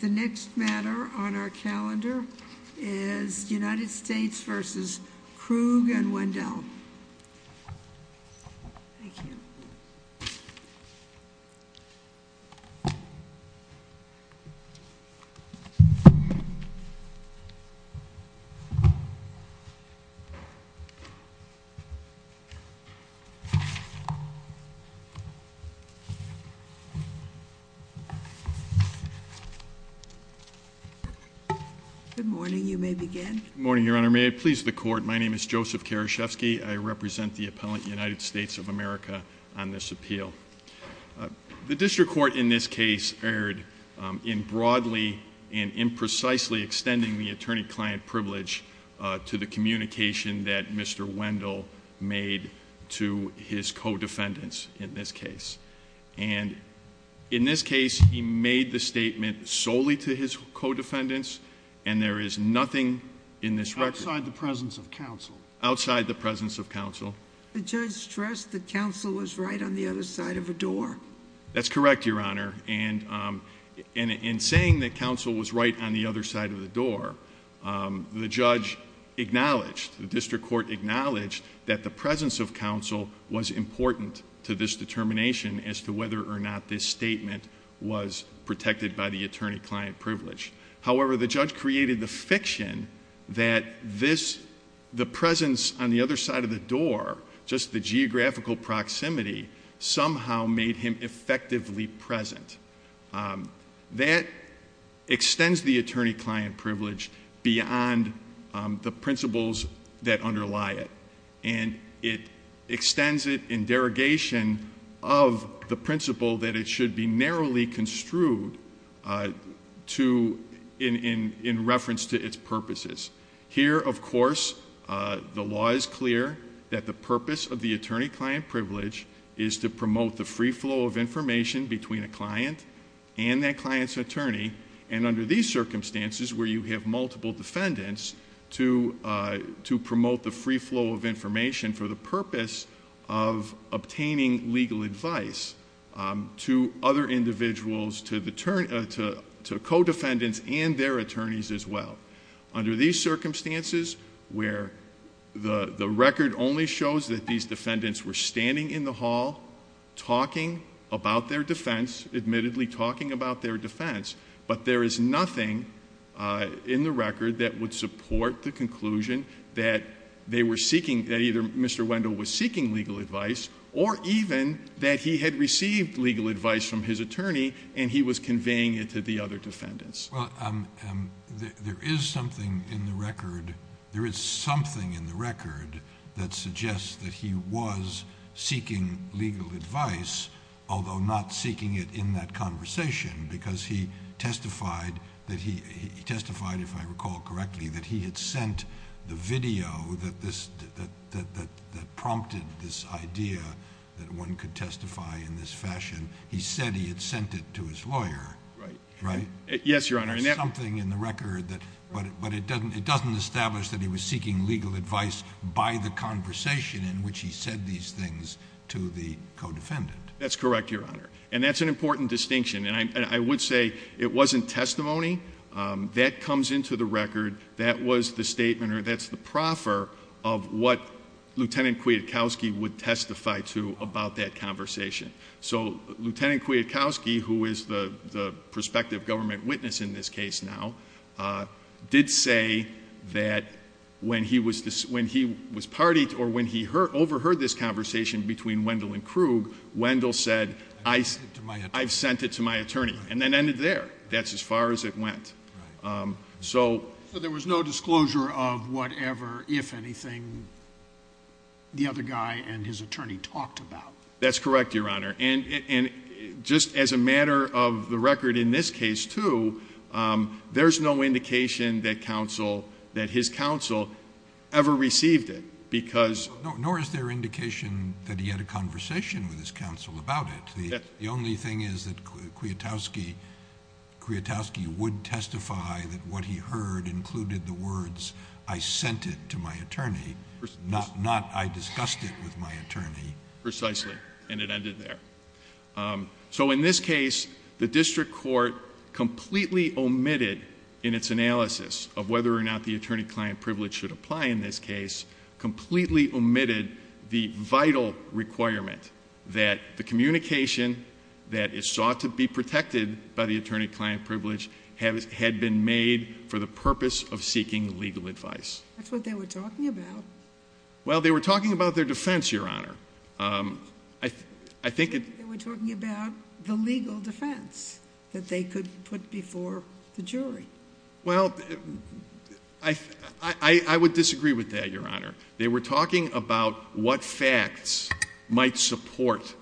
The next matter on our calendar is United States v. Krug and Wendell. Good morning, Your Honor. May I please the court? My name is Joseph Karashevsky. I represent the appellant United States of America on this appeal. The district court in this case erred in broadly and imprecisely extending the attorney-client privilege to the communication that Mr. Wendell made to his co-defendants in this case. And in this case, he made the statement solely to his co-defendants and there is nothing in this record. Outside the presence of counsel. Outside the presence of counsel. The judge stressed that counsel was right on the other side of the door. That's correct, Your Honor. And in saying that counsel was right on the other side of the door, the judge acknowledged, the district court acknowledged that the presence of counsel was important to this determination as to whether or not this statement was protected by the attorney-client privilege. However, the judge created the fiction that this, the presence on the other side of the door, just the geographical proximity, somehow made him effectively present. That extends the attorney-client privilege beyond the principles that underlie it. And it extends it in derogation of the principle that it should be narrowly construed in reference to its purposes. Here, of course, the law is clear that the purpose of the attorney-client privilege is to promote the free flow of information between a client and that client's attorney. And under these circumstances, where you have multiple defendants, to promote the free flow of information for the purpose of obtaining legal advice to other individuals, to co-defendants and their attorneys as well. Under these circumstances, where the record only shows that these defendants were standing in the hall, talking about their defense, admittedly talking about their defense. But there is nothing in the record that would support the conclusion that they were seeking, that either Mr. Wendell was seeking legal advice, or even that he had received legal advice from his attorney and he was conveying it to the other defendants. Well, there is something in the record that suggests that he was seeking legal advice, although not seeking it in that conversation. Because he testified, if I recall correctly, that he had sent the video that prompted this idea that one could testify in this fashion. He said he had sent it to his lawyer, right? Yes, Your Honor. There is something in the record, but it doesn't establish that he was seeking legal advice by the conversation in which he said these things to the co-defendant. That's correct, Your Honor. And that's an important distinction. And I would say it wasn't testimony. That comes into the record. That was the statement, or that's the proffer, of what Lieutenant Kwiatkowski would testify to about that conversation. So, Lieutenant Kwiatkowski, who is the prospective government witness in this case now, did say that when he overheard this conversation between Wendell and Krug, Wendell said, I've sent it to my attorney. And that ended there. That's as far as it went. So, there was no disclosure of whatever, if anything, the other guy and his attorney talked about. That's correct, Your Honor. And just as a matter of the record in this case, too, there's no indication that his counsel ever received it. Nor is there indication that he had a conversation with his counsel about it. The only thing is that Kwiatkowski would testify that what he heard included the words, I sent it to my attorney, not I discussed it with my attorney. Precisely. And it ended there. So, in this case, the district court completely omitted in its analysis of whether or not the attorney-client privilege should apply in this case, completely omitted the vital requirement that the communication that is sought to be protected by the attorney-client privilege had been made for the purpose of seeking legal advice. That's what they were talking about. Well, they were talking about their defense, Your Honor. I think it... They were talking about the legal defense that they could put before the jury. Well, I would disagree with that, Your Honor. They were talking about what facts might support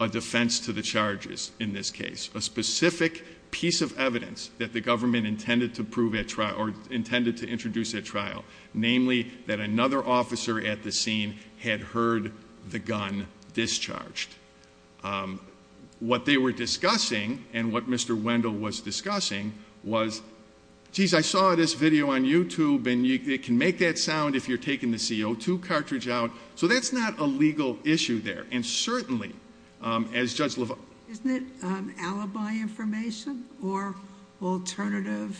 a defense to the charges in this case, a specific piece of evidence that the government intended to prove at trial or intended to introduce at trial, namely that another officer at the scene had heard the gun discharged. What they were discussing and what Mr. Wendell was discussing was, geez, I saw this video on YouTube and it can make that sound if you're taking the CO2 cartridge out. So that's not a legal issue there. And certainly, as Judge LaValle... Isn't it alibi information or alternative...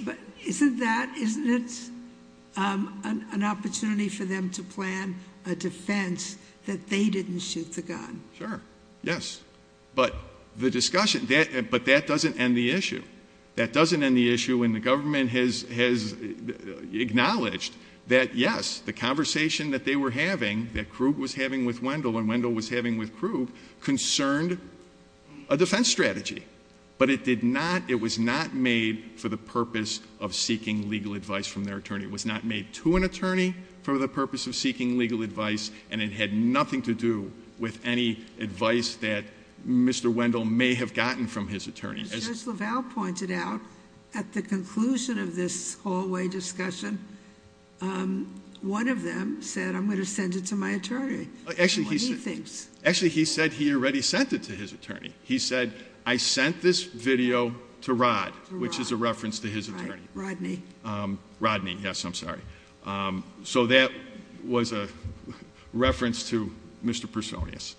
But isn't that... Isn't it an opportunity for them to plan a defense that they didn't shoot the gun? Sure. Yes. But the discussion... But that doesn't end the issue. That doesn't end the issue when the government has acknowledged that, yes, the conversation that they were having, that Krug was having with Wendell and Wendell was having with Krug, concerned a defense strategy. But it did not... It was not made for the purpose of seeking legal advice from their attorney. It was not made to an attorney for the purpose of seeking legal advice, and it had nothing to do with any advice that Mr. Wendell may have gotten from his attorney. As Judge LaValle pointed out, at the conclusion of this hallway discussion, one of them said, I'm going to send it to my attorney. Actually, he said he already sent it to his attorney. He said, I sent this video to Rod, which is a reference to his attorney. Rodney. Rodney, yes, I'm sorry. So that was a reference to Mr. Personius.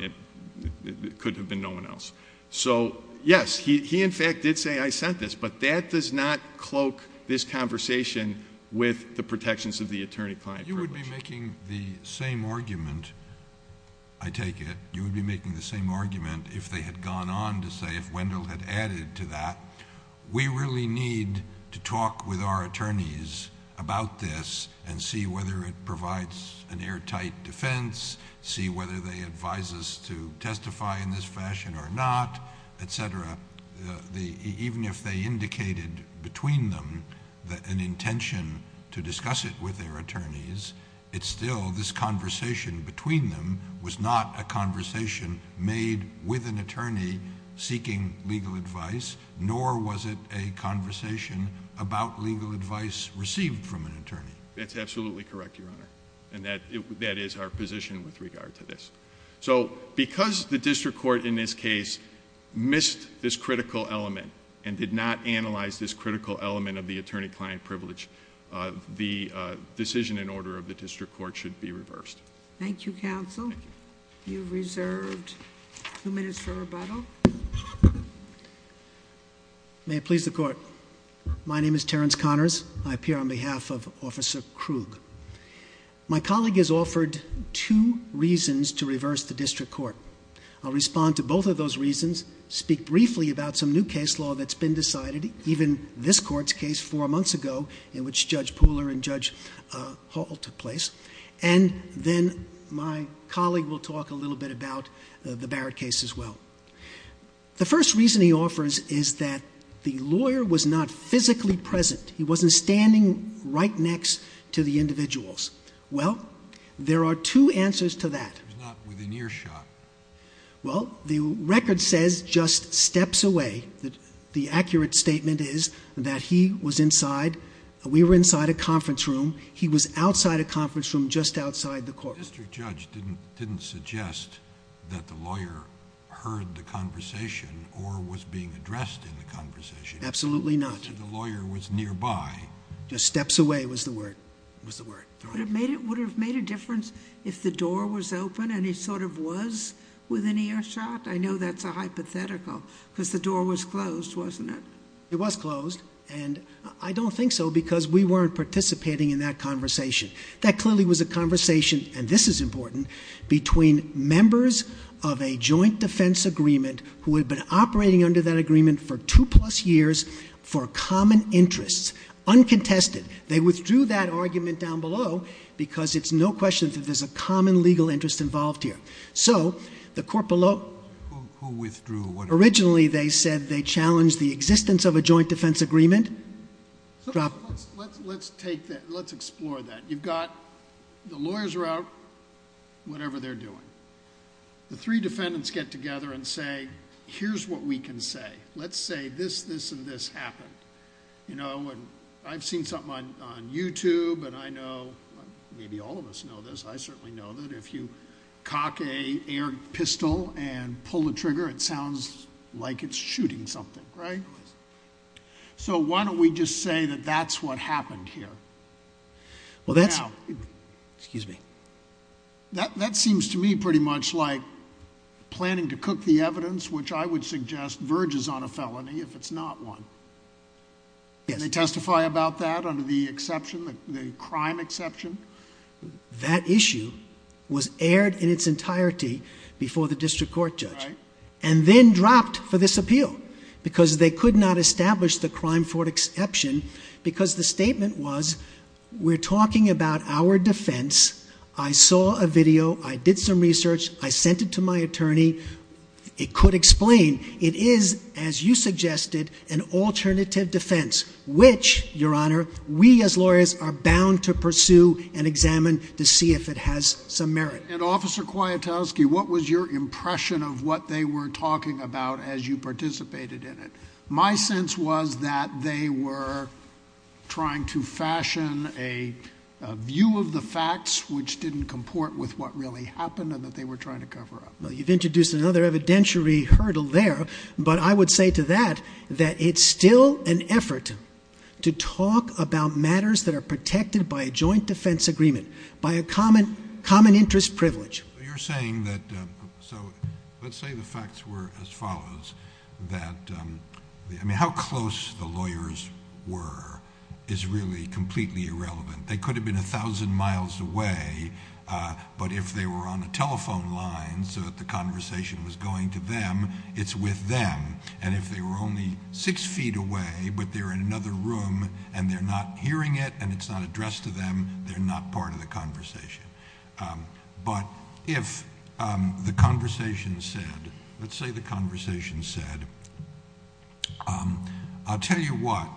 It could have been no one else. So, yes, he in fact did say, I sent this. But that does not cloak this conversation with the protections of the attorney-client privilege. You would be making the same argument, I take it, you would be making the same argument if they had gone on to say, if Wendell had added to that, we really need to talk with our attorneys about this and see whether it provides an airtight defense, see whether they advise us to testify in this fashion or not, et cetera. Even if they indicated between them an intention to discuss it with their attorneys, it's still this conversation between them was not a conversation made with an attorney seeking legal advice, nor was it a conversation about legal advice received from an attorney. That's absolutely correct, Your Honor, and that is our position with regard to this. So because the district court in this case missed this critical element and did not analyze this critical element of the attorney-client privilege, the decision in order of the district court should be reversed. Thank you, counsel. Thank you. You're reserved two minutes for rebuttal. May it please the court. My name is Terrence Connors. I appear on behalf of Officer Krug. My colleague has offered two reasons to reverse the district court. I'll respond to both of those reasons, speak briefly about some new case law that's been decided, even this court's case four months ago in which Judge Pooler and Judge Hall took place, and then my colleague will talk a little bit about the Barrett case as well. The first reason he offers is that the lawyer was not physically present. He wasn't standing right next to the individuals. Well, there are two answers to that. He was not within earshot. Well, the record says just steps away. The accurate statement is that he was inside. We were inside a conference room. He was outside a conference room just outside the courtroom. The district judge didn't suggest that the lawyer heard the conversation or was being addressed in the conversation. Absolutely not. He said the lawyer was nearby. Just steps away was the word. Would it have made a difference if the door was open and he sort of was within earshot? I know that's a hypothetical because the door was closed, wasn't it? It was closed, and I don't think so because we weren't participating in that conversation. That clearly was a conversation, and this is important, between members of a joint defense agreement who had been operating under that agreement for two-plus years for common interests, uncontested. They withdrew that argument down below because it's no question that there's a common legal interest involved here. So the court below... Who withdrew? Originally, they said they challenged the existence of a joint defense agreement. Let's take that. Let's explore that. You've got the lawyers are out, whatever they're doing. The three defendants get together and say, here's what we can say. Let's say this, this, and this happened. I've seen something on YouTube, and I know maybe all of us know this. I certainly know that if you cock an air pistol and pull the trigger, it sounds like it's shooting something, right? So why don't we just say that that's what happened here? Well, that's... Excuse me. That seems to me pretty much like planning to cook the evidence, which I would suggest verges on a felony if it's not one. Yes. Can they testify about that under the exception, the crime exception? That issue was aired in its entirety before the district court judge... Right.... and then dropped for this appeal because they could not establish the crime for exception because the statement was, we're talking about our defense. I saw a video. I did some research. I sent it to my attorney. It could explain. It is, as you suggested, an alternative defense, which, Your Honor, we as lawyers are bound to pursue and examine to see if it has some merit. And, Officer Kwiatkowski, what was your impression of what they were talking about as you participated in it? My sense was that they were trying to fashion a view of the facts, which didn't comport with what really happened, and that they were trying to cover up. Well, you've introduced another evidentiary hurdle there, but I would say to that that it's still an effort to talk about matters that are protected by a joint defense agreement, by a common interest privilege. You're saying that... let's say the facts were as follows. How close the lawyers were is really completely irrelevant. They could have been a thousand miles away, but if they were on a telephone line so that the conversation was going to them, it's with them. And if they were only six feet away, but they're in another room and they're not hearing it and it's not addressed to them, they're not part of the conversation. But if the conversation said... let's say the conversation said... I'll tell you what.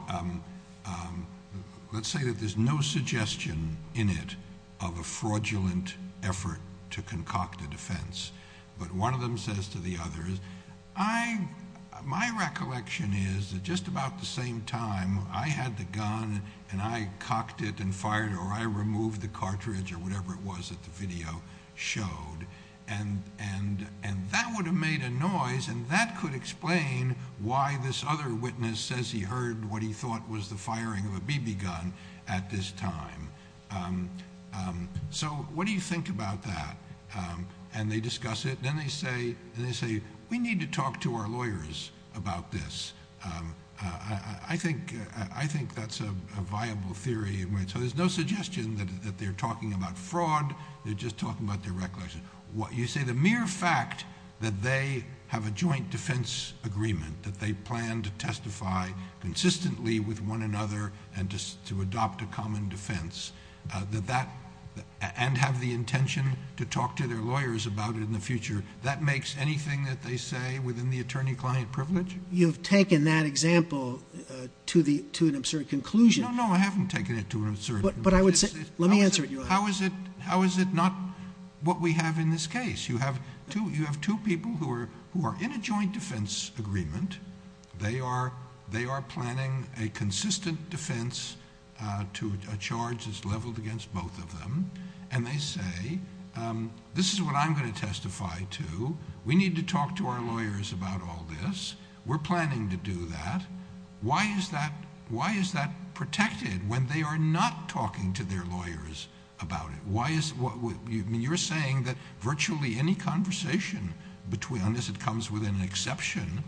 Let's say that there's no suggestion in it of a fraudulent effort to concoct a defense, but one of them says to the other, My recollection is that just about the same time I had the gun and I cocked it and fired, or I removed the cartridge or whatever it was that the video showed, and that would have made a noise and that could explain why this other witness says he heard what he thought was the firing of a BB gun at this time. So what do you think about that? And they discuss it and then they say, We need to talk to our lawyers about this. I think that's a viable theory. So there's no suggestion that they're talking about fraud. They're just talking about their recollection. You say the mere fact that they have a joint defense agreement, that they plan to testify consistently with one another and to adopt a common defense, and have the intention to talk to their lawyers about it in the future, that makes anything that they say within the attorney-client privilege? You've taken that example to an absurd conclusion. No, no, I haven't taken it to an absurd... But I would say... Let me answer it, Your Honor. How is it not what we have in this case? You have two people who are in a joint defense agreement. They are planning a consistent defense to a charge that's leveled against both of them. And they say, This is what I'm going to testify to. We need to talk to our lawyers about all this. We're planning to do that. Why is that protected when they are not talking to their lawyers about it? You're saying that virtually any conversation, unless it comes with an exception,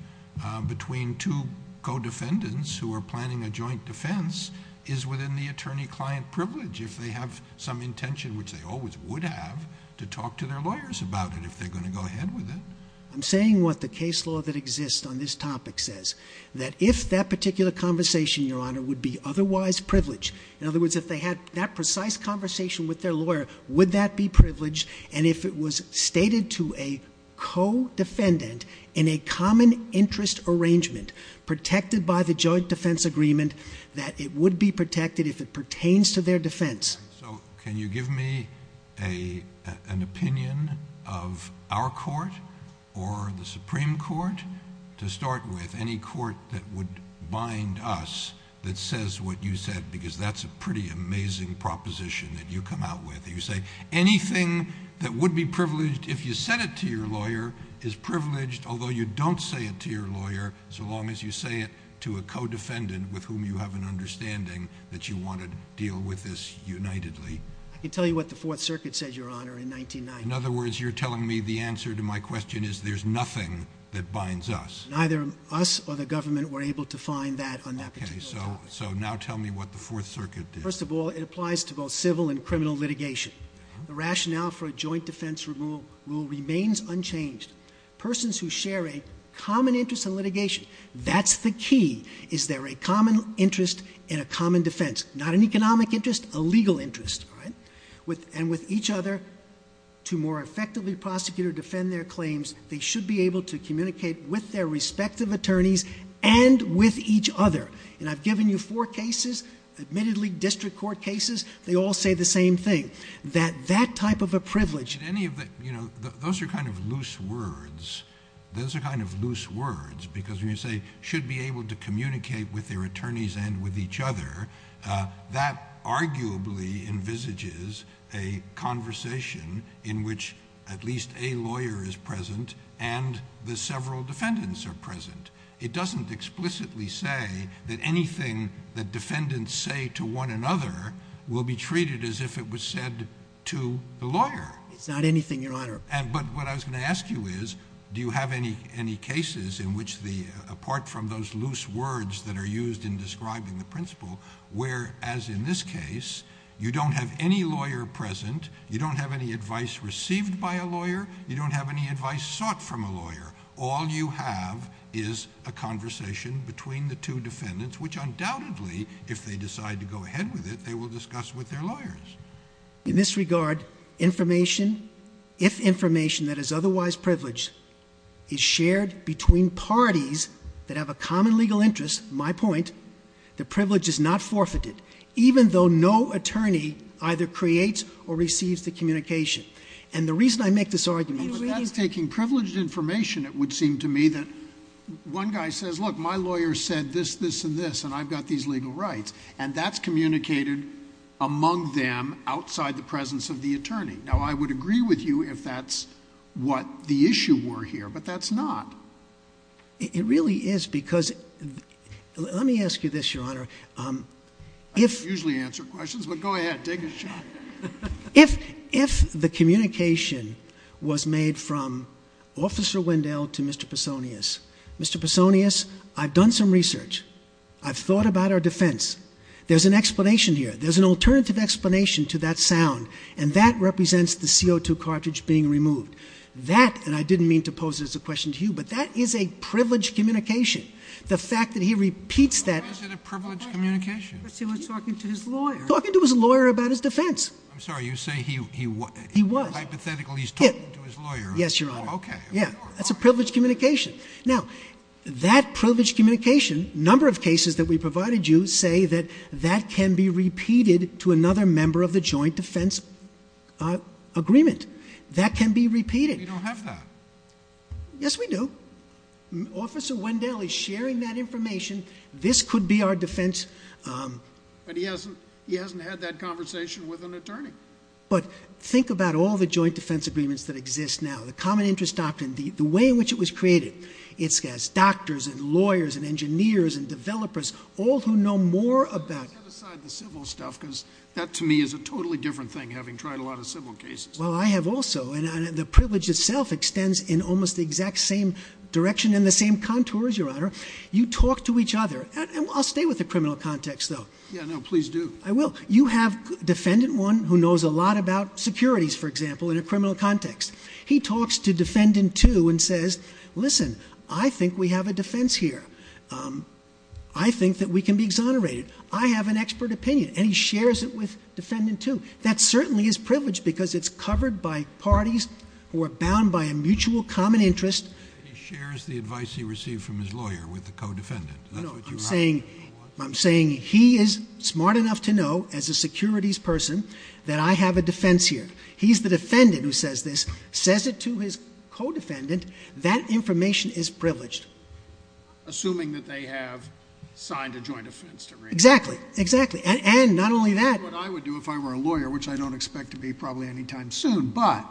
between two co-defendants who are planning a joint defense is within the attorney-client privilege if they have some intention, which they always would have, to talk to their lawyers about it, if they're going to go ahead with it? I'm saying what the case law that exists on this topic says, that if that particular conversation, Your Honor, would be otherwise privileged... and if it was stated to a co-defendant in a common interest arrangement protected by the joint defense agreement, that it would be protected if it pertains to their defense. So can you give me an opinion of our court or the Supreme Court? To start with, any court that would bind us that says what you said, because that's a pretty amazing proposition that you come out with. You say anything that would be privileged if you said it to your lawyer is privileged, although you don't say it to your lawyer, so long as you say it to a co-defendant with whom you have an understanding that you want to deal with this unitedly. I can tell you what the Fourth Circuit said, Your Honor, in 1990. In other words, you're telling me the answer to my question is there's nothing that binds us. Neither us or the government were able to find that on that particular topic. Okay. So now tell me what the Fourth Circuit did. First of all, it applies to both civil and criminal litigation. The rationale for a joint defense rule remains unchanged. Persons who share a common interest in litigation, that's the key. Is there a common interest in a common defense? Not an economic interest, a legal interest. And with each other, to more effectively prosecute or defend their claims, they should be able to communicate with their respective attorneys and with each other. And I've given you four cases, admittedly district court cases, they all say the same thing. That that type of a privilege... But any of the... you know, those are kind of loose words. Those are kind of loose words because when you say should be able to communicate with their attorneys and with each other, that arguably envisages a conversation in which at least a lawyer is present and the several defendants are present. It doesn't explicitly say that anything that defendants say to one another will be treated as if it was said to the lawyer. It's not anything, Your Honor. But what I was going to ask you is, do you have any cases in which the... apart from those loose words that are used in describing the principle, where, as in this case, you don't have any lawyer present, you don't have any advice received by a lawyer, you don't have any advice sought from a lawyer. All you have is a conversation between the two defendants, which undoubtedly, if they decide to go ahead with it, they will discuss with their lawyers. In this regard, information, if information that is otherwise privileged, is shared between parties that have a common legal interest, my point, the privilege is not forfeited, even though no attorney either creates or receives the communication. And the reason I make this argument... it would seem to me that one guy says, look, my lawyer said this, this, and this, and I've got these legal rights, and that's communicated among them outside the presence of the attorney. Now, I would agree with you if that's what the issue were here, but that's not. It really is because... Let me ask you this, Your Honor. I usually answer questions, but go ahead, take a shot. If the communication was made from Officer Wendell to Mr. Pesonius, Mr. Pesonius, I've done some research. I've thought about our defense. There's an explanation here. There's an alternative explanation to that sound, and that represents the CO2 cartridge being removed. That, and I didn't mean to pose it as a question to you, but that is a privileged communication. The fact that he repeats that... Why is it a privileged communication? Because he was talking to his lawyer. Talking to his lawyer about his defense. I'm sorry. You say he was. He was. Hypothetically, he's talking to his lawyer. Yes, Your Honor. Okay. Yeah, that's a privileged communication. Now, that privileged communication, number of cases that we provided you, say that that can be repeated to another member of the joint defense agreement. That can be repeated. We don't have that. Yes, we do. Officer Wendell is sharing that information. This could be our defense... But he hasn't had that conversation with an attorney. But think about all the joint defense agreements that exist now. The common interest doctrine, the way in which it was created. It's doctors and lawyers and engineers and developers, all who know more about... Let's set aside the civil stuff, because that, to me, is a totally different thing, having tried a lot of civil cases. Well, I have also. And the privilege itself extends in almost the exact same direction and the same contours, Your Honor. You talk to each other. I'll stay with the criminal context, though. Yeah, no, please do. I will. You have Defendant 1, who knows a lot about securities, for example, in a criminal context. He talks to Defendant 2 and says, Listen, I think we have a defense here. I think that we can be exonerated. I have an expert opinion. And he shares it with Defendant 2. That certainly is privileged, because it's covered by parties who are bound by a mutual common interest. He shares the advice he received from his lawyer with the co-defendant. I'm saying he is smart enough to know, as a securities person, that I have a defense here. He's the defendant who says this, says it to his co-defendant. That information is privileged. Assuming that they have signed a joint defense agreement. Exactly. And not only that. Which is what I would do if I were a lawyer, which I don't expect to be probably any time soon. But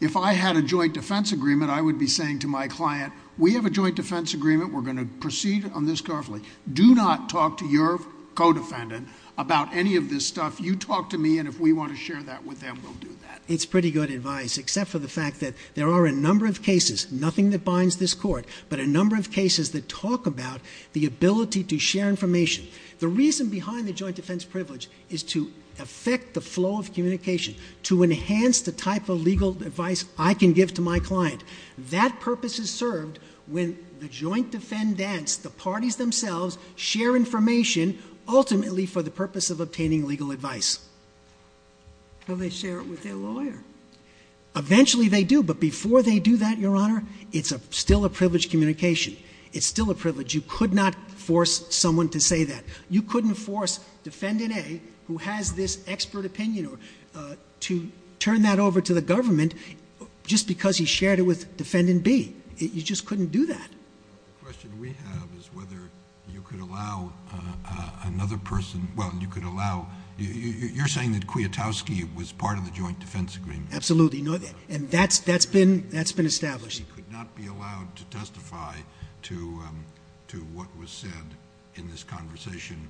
if I had a joint defense agreement, I would be saying to my client, We have a joint defense agreement. We're going to proceed on this carefully. Do not talk to your co-defendant about any of this stuff. You talk to me, and if we want to share that with them, we'll do that. It's pretty good advice. Except for the fact that there are a number of cases, nothing that binds this court, but a number of cases that talk about the ability to share information. The reason behind the joint defense privilege is to affect the flow of communication. To enhance the type of legal advice I can give to my client. That purpose is served when the joint defendants, the parties themselves, share information ultimately for the purpose of obtaining legal advice. How do they share it with their lawyer? Eventually they do. But before they do that, Your Honor, it's still a privileged communication. It's still a privilege. You could not force someone to say that. You couldn't force defendant A, who has this expert opinion, to turn that over to the government just because he shared it with defendant B. You just couldn't do that. The question we have is whether you could allow another person... Well, you could allow... You're saying that Kwiatkowski was part of the joint defense agreement. Absolutely. That's been established. He could not be allowed to testify to what was said in this conversation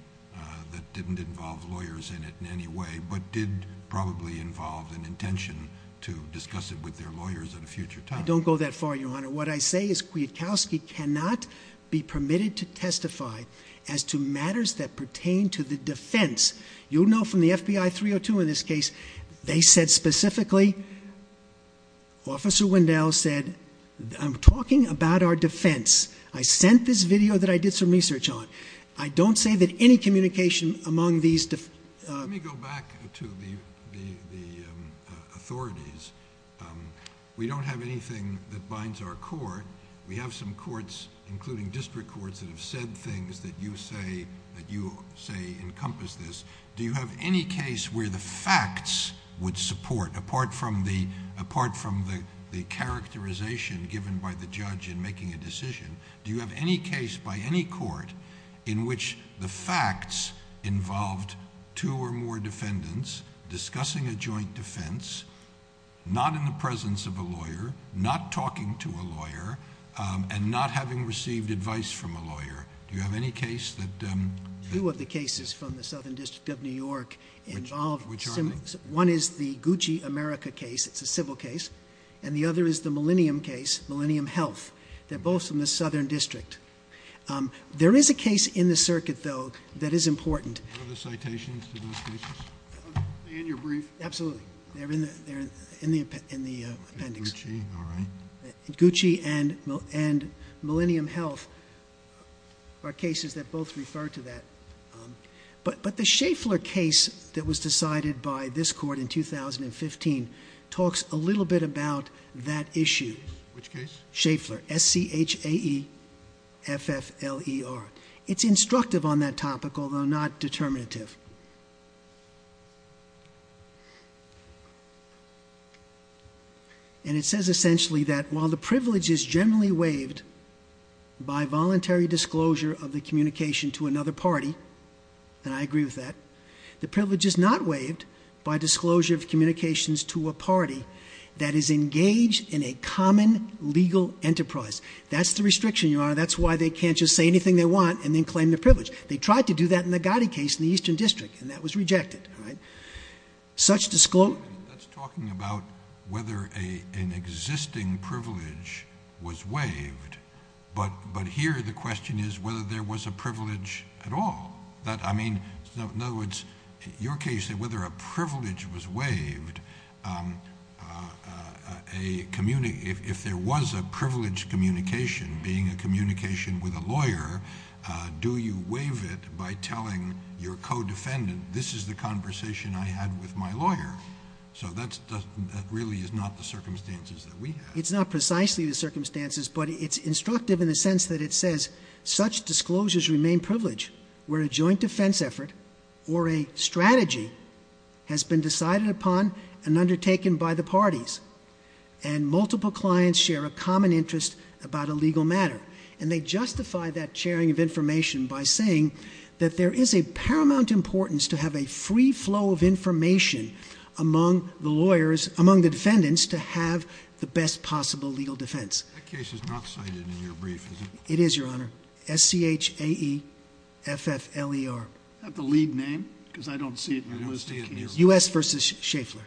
that didn't involve lawyers in it in any way, but did probably involve an intention to discuss it with their lawyers at a future time. Don't go that far, Your Honor. What I say is Kwiatkowski cannot be permitted to testify as to matters that pertain to the defense. You'll know from the FBI 302 in this case, they said specifically... Officer Wendell said, I'm talking about our defense. I sent this video that I did some research on. I don't say that any communication among these... Let me go back to the authorities. We don't have anything that binds our court. We have some courts, including district courts, that have said things that you say encompass this. Do you have any case where the facts would support, apart from the characterization given by the judge in making a decision, do you have any case by any court in which the facts involved two or more defendants discussing a joint defense, not in the presence of a lawyer, not talking to a lawyer, and not having received advice from a lawyer? Do you have any case that... Two of the cases from the Southern District of New York involve... Which are they? One is the Gucci America case. It's a civil case. The other is the Millennium case, Millennium Health. They're both from the Southern District. There is a case in the circuit, though, that is important. Are there citations to those cases? In your brief? Absolutely. They're in the appendix. Gucci, all right. Gucci and Millennium Health are cases that both refer to that. But the Schaeffler case that was decided by this court in 2015 talks a little bit about that issue. Which case? Schaeffler, S-C-H-A-E-F-F-L-E-R. It's instructive on that topic, although not determinative. And it says, essentially, that while the privilege is generally waived by voluntary disclosure of the communication to another party, and I agree with that, that is engaged in a common legal enterprise. That's the restriction, Your Honor. That's why they can't just say anything they want and then claim their privilege. They tried to do that in the Gotti case in the Eastern District, and that was rejected. Such disclosure... That's talking about whether an existing privilege was waived, but here the question is whether there was a privilege at all. I mean, in other words, in your case, you say whether a privilege was waived. If there was a privileged communication, being a communication with a lawyer, do you waive it by telling your co-defendant, this is the conversation I had with my lawyer? So that really is not the circumstances that we have. It's not precisely the circumstances, but it's instructive in the sense that it says, such disclosures remain privileged where a joint defense effort or a strategy has been decided upon and undertaken by the parties, and multiple clients share a common interest about a legal matter. And they justify that sharing of information by saying that there is a paramount importance to have a free flow of information among the defendants to have the best possible legal defense. That case is not cited in your brief, is it? It is, Your Honor. S-C-H-A-E-F-F-L-E-R. Is that the lead name? Because I don't see it in your list of cases. U.S. v. Schaeffler.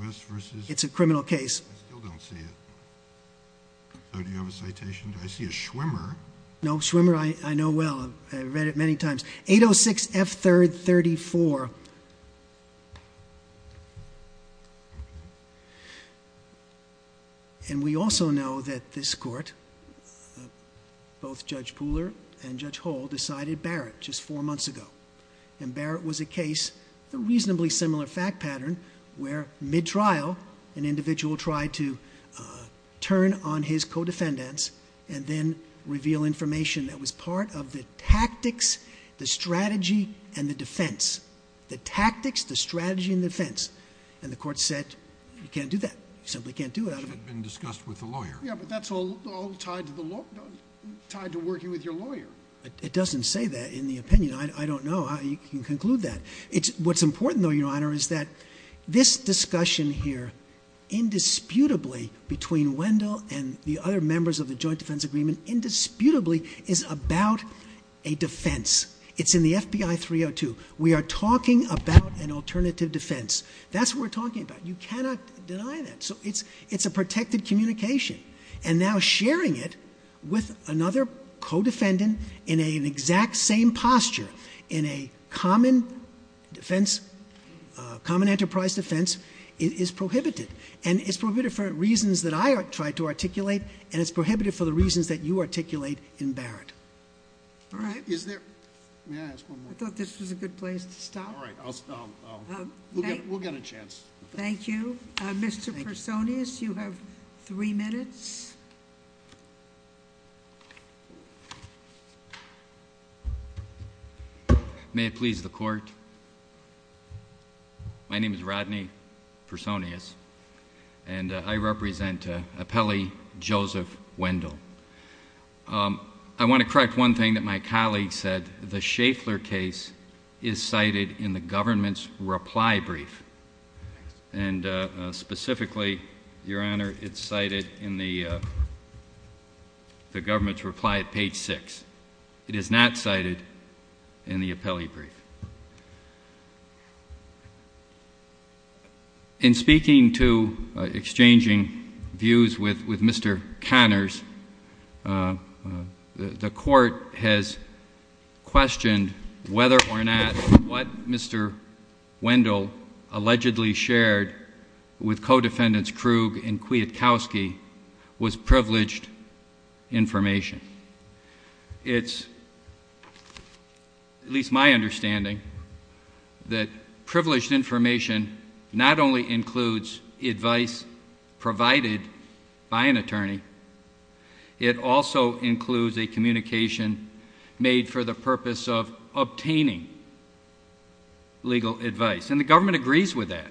U.S. v. Schaeffler. It's a criminal case. I still don't see it. Do you have a citation? I see a Schwimmer. No, Schwimmer I know well. I've read it many times. 806 F. 3rd 34. And we also know that this court, both Judge Pooler and Judge Hull, decided Barrett just four months ago. And Barrett was a case, a reasonably similar fact pattern, where mid-trial an individual tried to turn on his co-defendants and then reveal information that was part of the tactics, the strategy, and the defense. The tactics, the strategy, and the defense. And the court said, you can't do that. You simply can't do that. That had been discussed with the lawyer. Yeah, but that's all tied to working with your lawyer. It doesn't say that in the opinion. I don't know how you can conclude that. What's important, though, Your Honor, is that this discussion here, indisputably between Wendell and the other members of the joint defense agreement, indisputably is about a defense. It's in the FBI 302. We are talking about an alternative defense. That's what we're talking about. You cannot deny that. So it's a protected communication. And now sharing it with another co-defendant in an exact same posture, in a common defense, common enterprise defense, is prohibited. And it's prohibited for reasons that I tried to articulate, and it's prohibited for the reasons that you articulate in Barrett. All right. May I ask one more? I thought this was a good place to stop. All right. We'll get a chance. Thank you. Mr. Personius, you have three minutes. May it please the Court. My name is Rodney Personius, and I represent Appellee Joseph Wendell. I want to correct one thing that my colleague said. The Schaeffler case is cited in the government's reply brief. And specifically, Your Honor, it's cited in the government's reply at page 6. It is not cited in the appellee brief. In speaking to exchanging views with Mr. Connors, the Court has questioned whether or not what Mr. Wendell allegedly shared with co-defendants Krug and Kwiatkowski was privileged information. It's at least my understanding that privileged information not only includes advice provided by an attorney, it also includes a communication made for the purpose of obtaining legal advice. And the government agrees with that.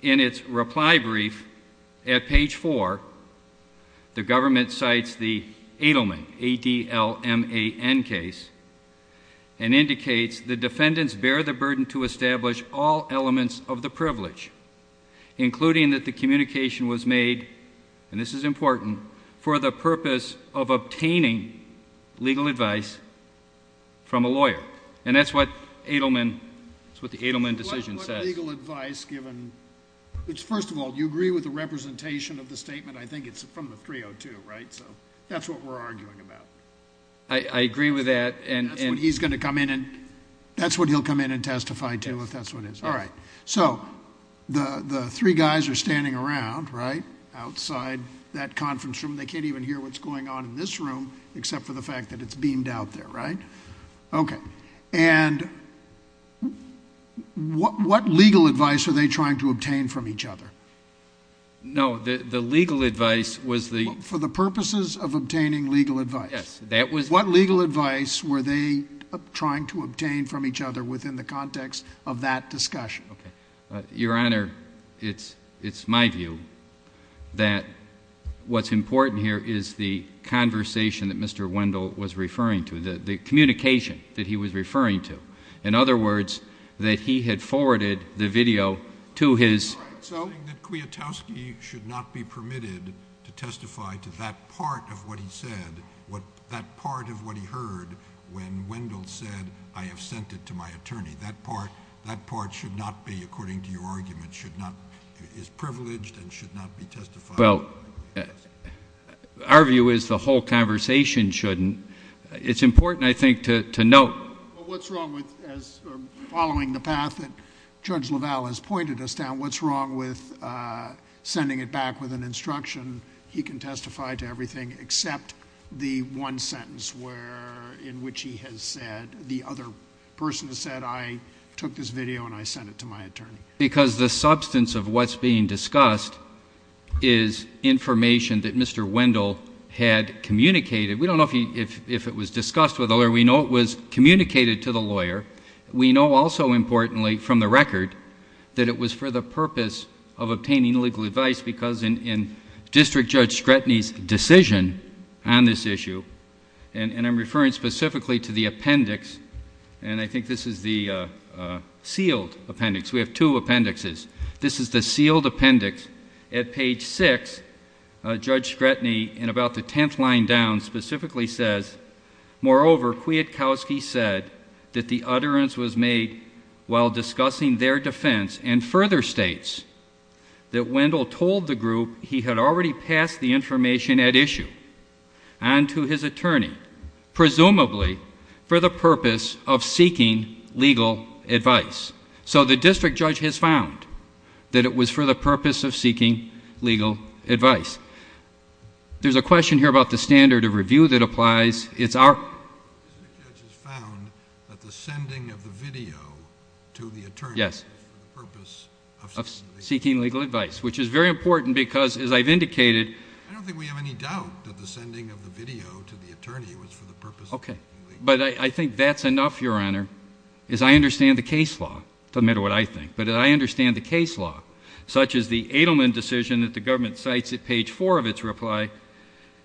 In its reply brief at page 4, the government cites the Adelman case and indicates the defendants bear the burden to establish all elements of the privilege, including that the communication was made, and this is important, for the purpose of obtaining legal advice from a lawyer. And that's what the Adelman decision says. What legal advice, given? First of all, do you agree with the representation of the statement? I think it's from the 302, right? So that's what we're arguing about. I agree with that. That's what he's going to come in and testify to, if that's what it is. All right. So the three guys are standing around, right, outside that conference room. They can't even hear what's going on in this room, except for the fact that it's beamed out there, right? Okay. And what legal advice are they trying to obtain from each other? No, the legal advice was the— For the purposes of obtaining legal advice. Yes, that was— What legal advice were they trying to obtain from each other within the context of that discussion? Okay. Your Honor, it's my view that what's important here is the conversation that Mr. Wendell was referring to, the communication that he was referring to. In other words, that he had forwarded the video to his— He was saying that Kwiatkowski should not be permitted to testify to that part of what he said, that part of what he heard when Wendell said, I have sent it to my attorney. That part should not be, according to your argument, should not—is privileged and should not be testified to. Well, our view is the whole conversation shouldn't. It's important, I think, to note— Well, what's wrong with—following the path that Judge LaValle has pointed us down, what's wrong with sending it back with an instruction, he can testify to everything except the one sentence where—in which he has said, the other person has said, I took this video and I sent it to my attorney? Because the substance of what's being discussed is information that Mr. Wendell had communicated. We don't know if it was discussed with the lawyer. We know it was communicated to the lawyer. We know also, importantly, from the record, that it was for the purpose of obtaining legal advice because in District Judge Scretany's decision on this issue, and I'm referring specifically to the appendix, and I think this is the sealed appendix. We have two appendixes. This is the sealed appendix at page 6. Judge Scretany, in about the tenth line down, specifically says, moreover, Kwiatkowski said that the utterance was made while discussing their defense and further states that Wendell told the group he had already passed the information at issue onto his attorney, presumably for the purpose of seeking legal advice. So the district judge has found that it was for the purpose of seeking legal advice. There's a question here about the standard of review that applies. It's our... The district judge has found that the sending of the video to the attorney was for the purpose of seeking legal advice. Yes, of seeking legal advice, which is very important because, as I've indicated... I don't think we have any doubt that the sending of the video to the attorney was for the purpose of seeking legal advice. Okay, but I think that's enough, Your Honor, as I understand the case law. It doesn't matter what I think, but as I understand the case law, such as the Adelman decision that the government cites at page 4 of its reply,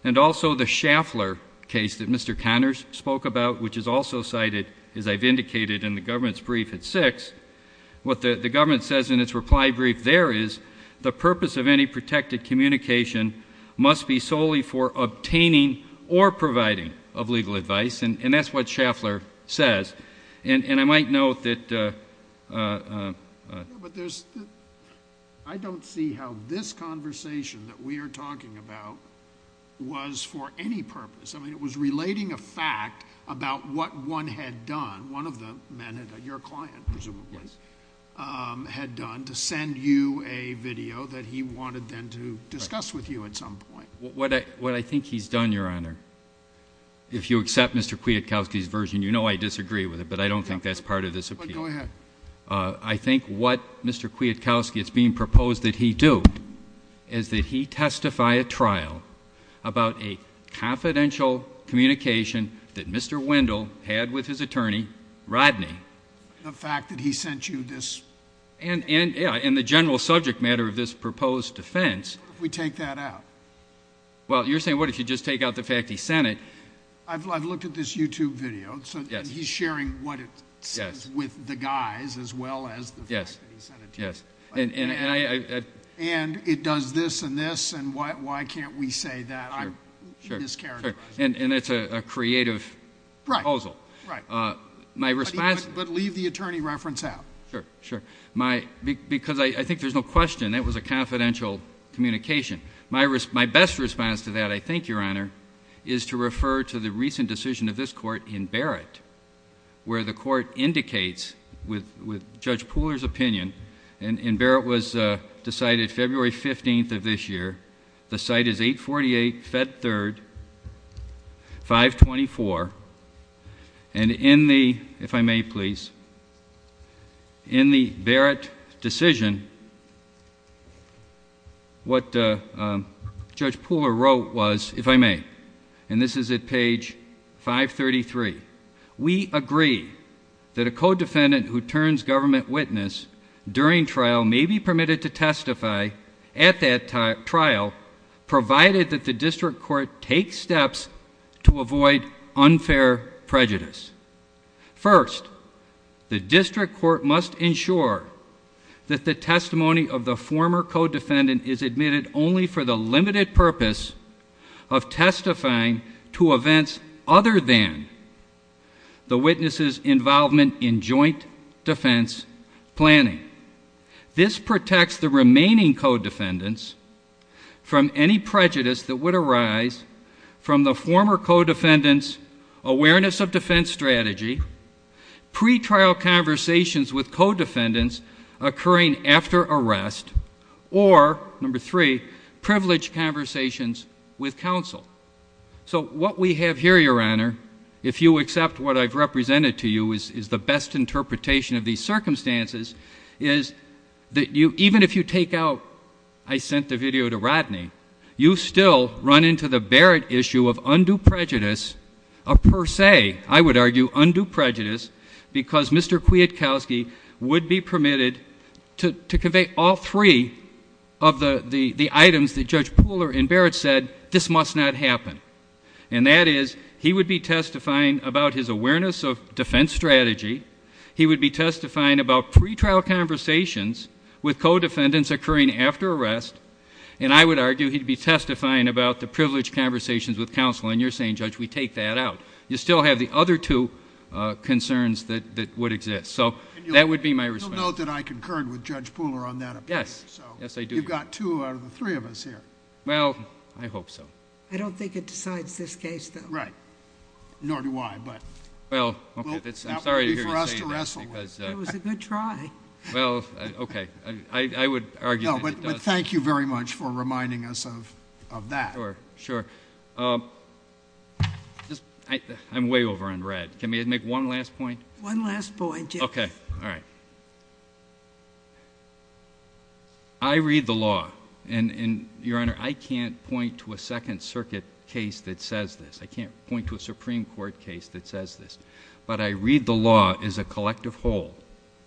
and also the Schaffler case that Mr. Connors spoke about, which is also cited, as I've indicated, in the government's brief at 6, what the government says in its reply brief there is, the purpose of any protected communication must be solely for obtaining or providing of legal advice, and that's what Schaffler says. And I might note that... But there's... I don't see how this conversation that we are talking about was for any purpose. I mean, it was relating a fact about what one had done. One of the men, your client presumably, had done to send you a video that he wanted then to discuss with you at some point. What I think he's done, Your Honor, if you accept Mr. Kwiatkowski's version, you know I disagree with it, but I don't think that's part of this appeal. Go ahead. I think what Mr. Kwiatkowski is being proposed that he do is that he testify at trial about a confidential communication that Mr. Wendell had with his attorney, Rodney. The fact that he sent you this... And the general subject matter of this proposed defense... What if we take that out? Well, you're saying what if you just take out the fact he sent it? I've looked at this YouTube video, and he's sharing what it says with the guys as well as the fact that he sent it to you. Yes. And it does this and this, and why can't we say that? Sure, sure. I'm mischaracterizing it. And it's a creative proposal. Right, right. My response... But leave the attorney reference out. Sure, sure. Because I think there's no question that was a confidential communication. My best response to that, I think, Your Honor, is to refer to the recent decision of this court in Barrett where the court indicates with Judge Pooler's opinion... And Barrett was decided February 15th of this year. The site is 848 Fed Third, 524. And in the... if I may please... In the Barrett decision, what Judge Pooler wrote was... if I may... And this is at page 533. We agree that a codefendant who turns government witness during trial may be permitted to testify at that trial provided that the district court takes steps to avoid unfair prejudice. First, the district court must ensure that the testimony of the former codefendant is admitted only for the limited purpose of testifying to events other than the witness's involvement in joint defense planning. This protects the remaining codefendants from any prejudice that would arise from the former codefendant's awareness of defense strategy, pre-trial conversations with codefendants occurring after arrest, or, number three, privileged conversations with counsel. So what we have here, Your Honor, if you accept what I've represented to you is the best interpretation of these circumstances, is that even if you take out, I sent the video to Rodney, you still run into the Barrett issue of undue prejudice, per se, I would argue, undue prejudice, because Mr. Kwiatkowski would be permitted to convey all three of the items that Judge Pooler and Barrett said, this must not happen. And that is, he would be testifying about his awareness of defense strategy. He would be testifying about pre-trial conversations with codefendants occurring after arrest. And I would argue he'd be testifying about the privileged conversations with counsel. And you're saying, Judge, we take that out. You still have the other two concerns that would exist. So that would be my response. You'll note that I concurred with Judge Pooler on that opinion. Yes. Yes, I do. So you've got two out of the three of us here. Well, I hope so. I don't think it decides this case, though. Right. Nor do I. Well, I'm sorry to hear you say that. That would be for us to wrestle with. It was a good try. Well, okay. I would argue that it does. No, but thank you very much for reminding us of that. Sure. Sure. I'm way over on red. Can we make one last point? One last point, yes. Okay. All right. I read the law. And, Your Honor, I can't point to a Second Circuit case that says this. I can't point to a Supreme Court case that says this. But I read the law as a collective whole,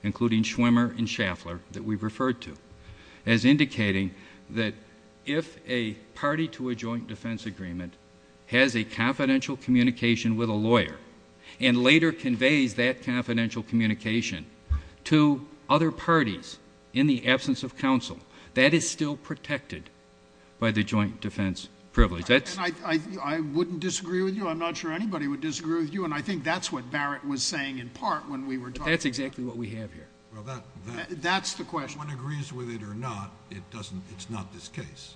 including Schwimmer and Schaffler, that we've referred to, as indicating that if a party to a joint defense agreement has a confidential communication with a lawyer and later conveys that confidential communication to other parties in the absence of counsel, that is still protected by the joint defense privilege. I wouldn't disagree with you. I'm not sure anybody would disagree with you. And I think that's what Barrett was saying in part when we were talking. That's exactly what we have here. Well, that's the question. Whether anyone agrees with it or not, it's not this case.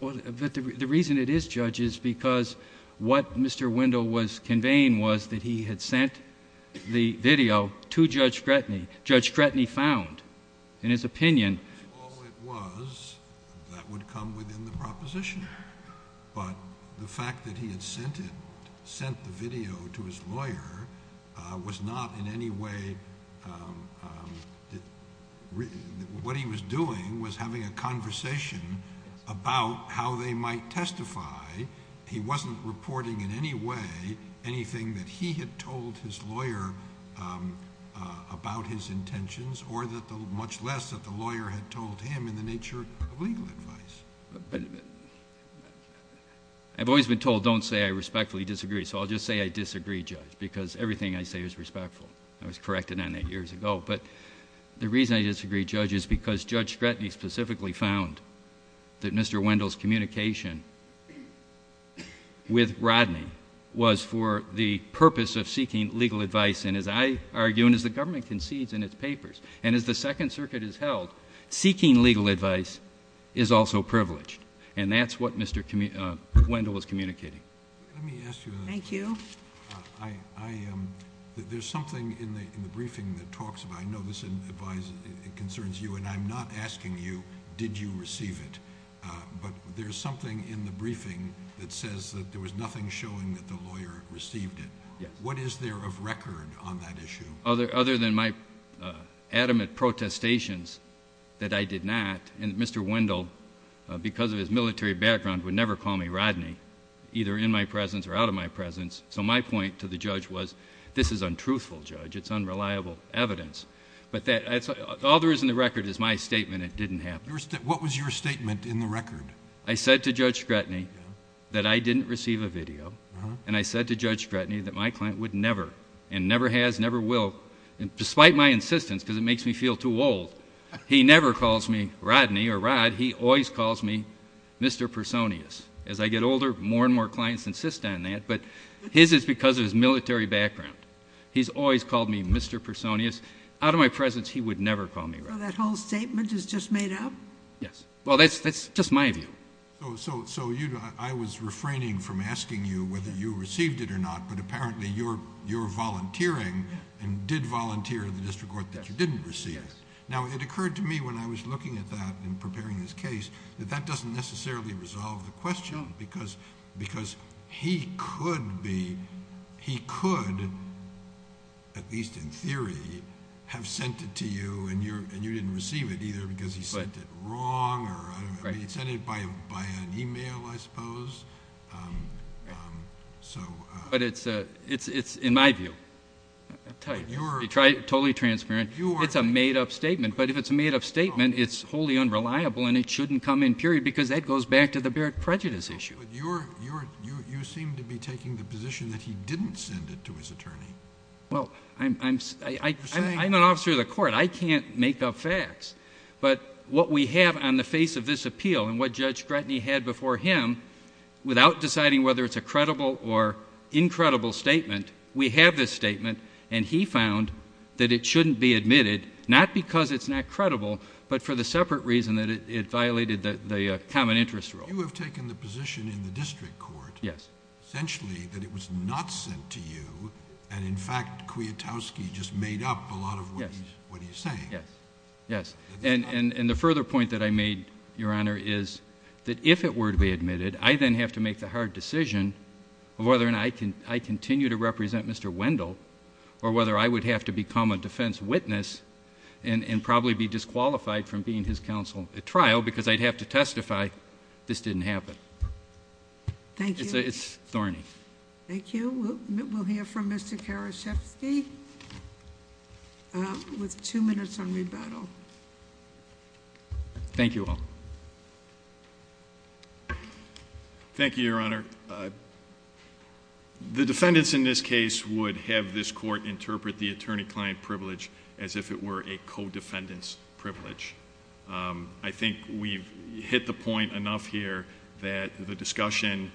Well, the reason it is, Judge, is because what Mr. Wendell was conveying was that he had sent the video to Judge Gretny. Judge Gretny found, in his opinion. If that's all it was, that would come within the proposition. But the fact that he had sent the video to his lawyer was not in any way... What he was doing was having a conversation about how they might testify. He wasn't reporting in any way anything that he had told his lawyer about his intentions, or much less that the lawyer had told him in the nature of legal advice. I've always been told, don't say I respectfully disagree. So, I'll just say I disagree, Judge, because everything I say is respectful. I was corrected on that years ago. But, the reason I disagree, Judge, is because Judge Gretny specifically found that Mr. Wendell's communication with Rodney was for the purpose of seeking legal advice. And, as I argue, and as the government concedes in its papers, and as the Second Circuit has held, seeking legal advice is also privileged. And, that's what Mr. Wendell was communicating. Let me ask you... Thank you. There's something in the briefing that talks about... I know this advice concerns you, and I'm not asking you, did you receive it? But, there's something in the briefing that says that there was nothing showing that the lawyer received it. Yes. What is there of record on that issue? Other than my adamant protestations that I did not. And, Mr. Wendell, because of his military background, would never call me Rodney, either in my presence or out of my presence. So, my point to the Judge was, this is untruthful, Judge. It's unreliable evidence. But, all there is in the record is my statement it didn't happen. What was your statement in the record? I said to Judge Scretany that I didn't receive a video. And, I said to Judge Scretany that my client would never, and never has, never will, despite my insistence, because it makes me feel too old. He never calls me Rodney or Rod. He always calls me Mr. Personius. As I get older, more and more clients insist on that, but his is because of his military background. He's always called me Mr. Personius. Out of my presence, he would never call me Rod. So, that whole statement is just made up? Yes. Well, that's just my view. So, I was refraining from asking you whether you received it or not, but apparently you're volunteering and did volunteer in the district court that you didn't receive it. Now, it occurred to me when I was looking at that and preparing this case, that that doesn't necessarily resolve the question. No, because he could be, he could, at least in theory, have sent it to you and you didn't receive it either because he sent it wrong. He sent it by an email, I suppose. But, it's in my view. I'll tell you. Be totally transparent. It's a made up statement. But, if it's a made up statement, it's wholly unreliable and it shouldn't come in period because that goes back to the Barrett prejudice issue. You seem to be taking the position that he didn't send it to his attorney. Well, I'm an officer of the court. I can't make up facts. But, what we have on the face of this appeal and what Judge Gretny had before him, without deciding whether it's a credible or incredible statement, we have this statement and he found that it shouldn't be admitted, not because it's not credible, but for the separate reason that it violated the common interest rule. You have taken the position in the district court. Yes. Essentially, that it was not sent to you and, in fact, Kwiatkowski just made up a lot of what he's saying. Yes. Yes. And, the further point that I made, Your Honor, is that if it were to be admitted, I then have to make the hard decision of whether or not I continue to represent Mr. Wendell or whether I would have to become a defense witness and probably be disqualified from being his counsel at trial because I'd have to testify this didn't happen. Thank you. It's thorny. Thank you. We'll hear from Mr. Karaszewski with two minutes on rebuttal. Thank you all. Thank you, Your Honor. The defendants in this case would have this court interpret the attorney-client privilege as if it were a co-defendant's privilege. I think we've hit the point enough here that the discussion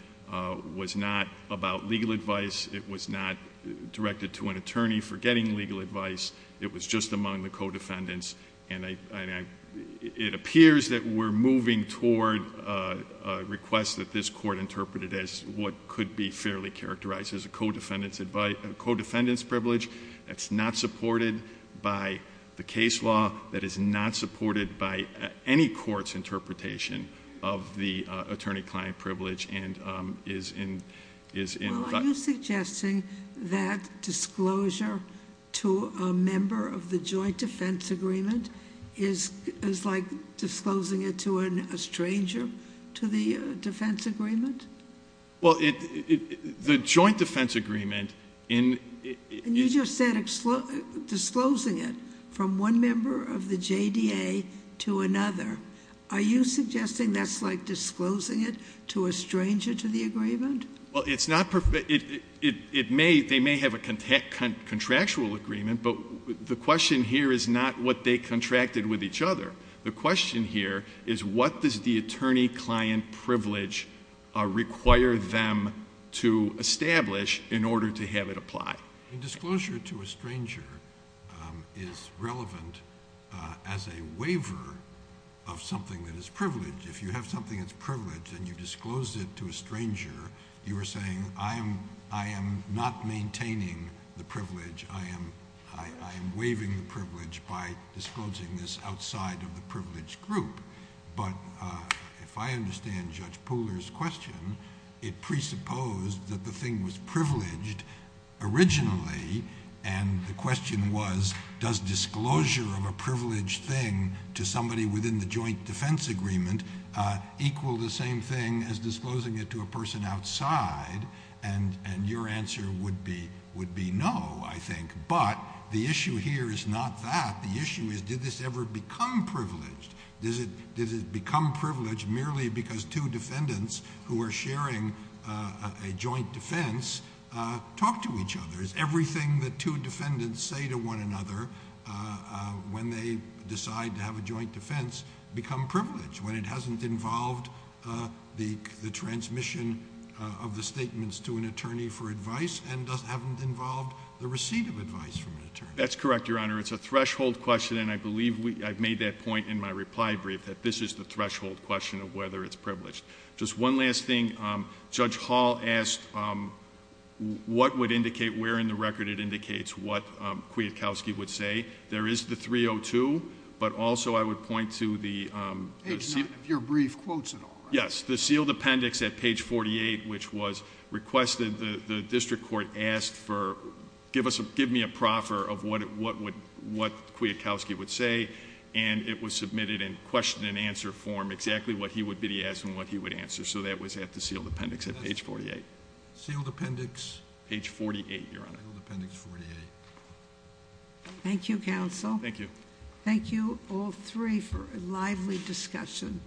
was not about legal advice. It was not directed to an attorney for getting legal advice. It was just among the co-defendants. It appears that we're moving toward a request that this court interpreted as what could be fairly characterized as a co-defendant's privilege that's not supported by the case law, that is not supported by any court's interpretation of the attorney-client privilege and is in... Well, are you suggesting that disclosure to a member of the joint defense agreement is like disclosing it to a stranger to the defense agreement? Well, the joint defense agreement in... You just said disclosing it from one member of the JDA to another. Are you suggesting that's like disclosing it to a stranger to the agreement? Well, it's not... It may... They may have a contractual agreement, but the question here is not what they contracted with each other. The question here is what does the attorney-client privilege require them to establish in order to have it apply? Disclosure to a stranger is relevant as a waiver of something that is privileged. If you have something that's privileged and you disclose it to a stranger, you are saying, I am not maintaining the privilege. I am waiving the privilege by disclosing this outside of the privileged group. If I understand Judge Pooler's question, it presupposed that the thing was privileged originally and the question was, does disclosure of a privileged thing to somebody within the joint defense agreement equal the same thing as disclosing it to a person outside? Your answer would be no, I think, but the issue here is not that. The issue is did this ever become privileged? Does it become privileged merely because two defendants who are sharing a joint defense talk to each other? Is everything that two defendants say to one another when they decide to have a joint defense become privileged when it hasn't involved the transmission of the statements to an attorney for advice and doesn't... haven't involved the receipt of advice from an attorney? That's correct, Your Honor. It's a threshold question, and I believe I've made that point in my reply brief, that this is the threshold question of whether it's privileged. Just one last thing. Judge Hall asked what would indicate, where in the record it indicates what Kwiatkowski would say. There is the 302, but also I would point to the... Page 9 of your brief quotes it all, right? Yes, the sealed appendix at page 48, which was requested. The district court asked for, give me a proffer of what Kwiatkowski would say, and it was submitted in question and answer form, exactly what he would be asked and what he would answer. So that was at the sealed appendix at page 48. Sealed appendix... Page 48, Your Honor. Sealed appendix 48. Thank you, counsel. Thank you. Thank you, all three, for a lively discussion.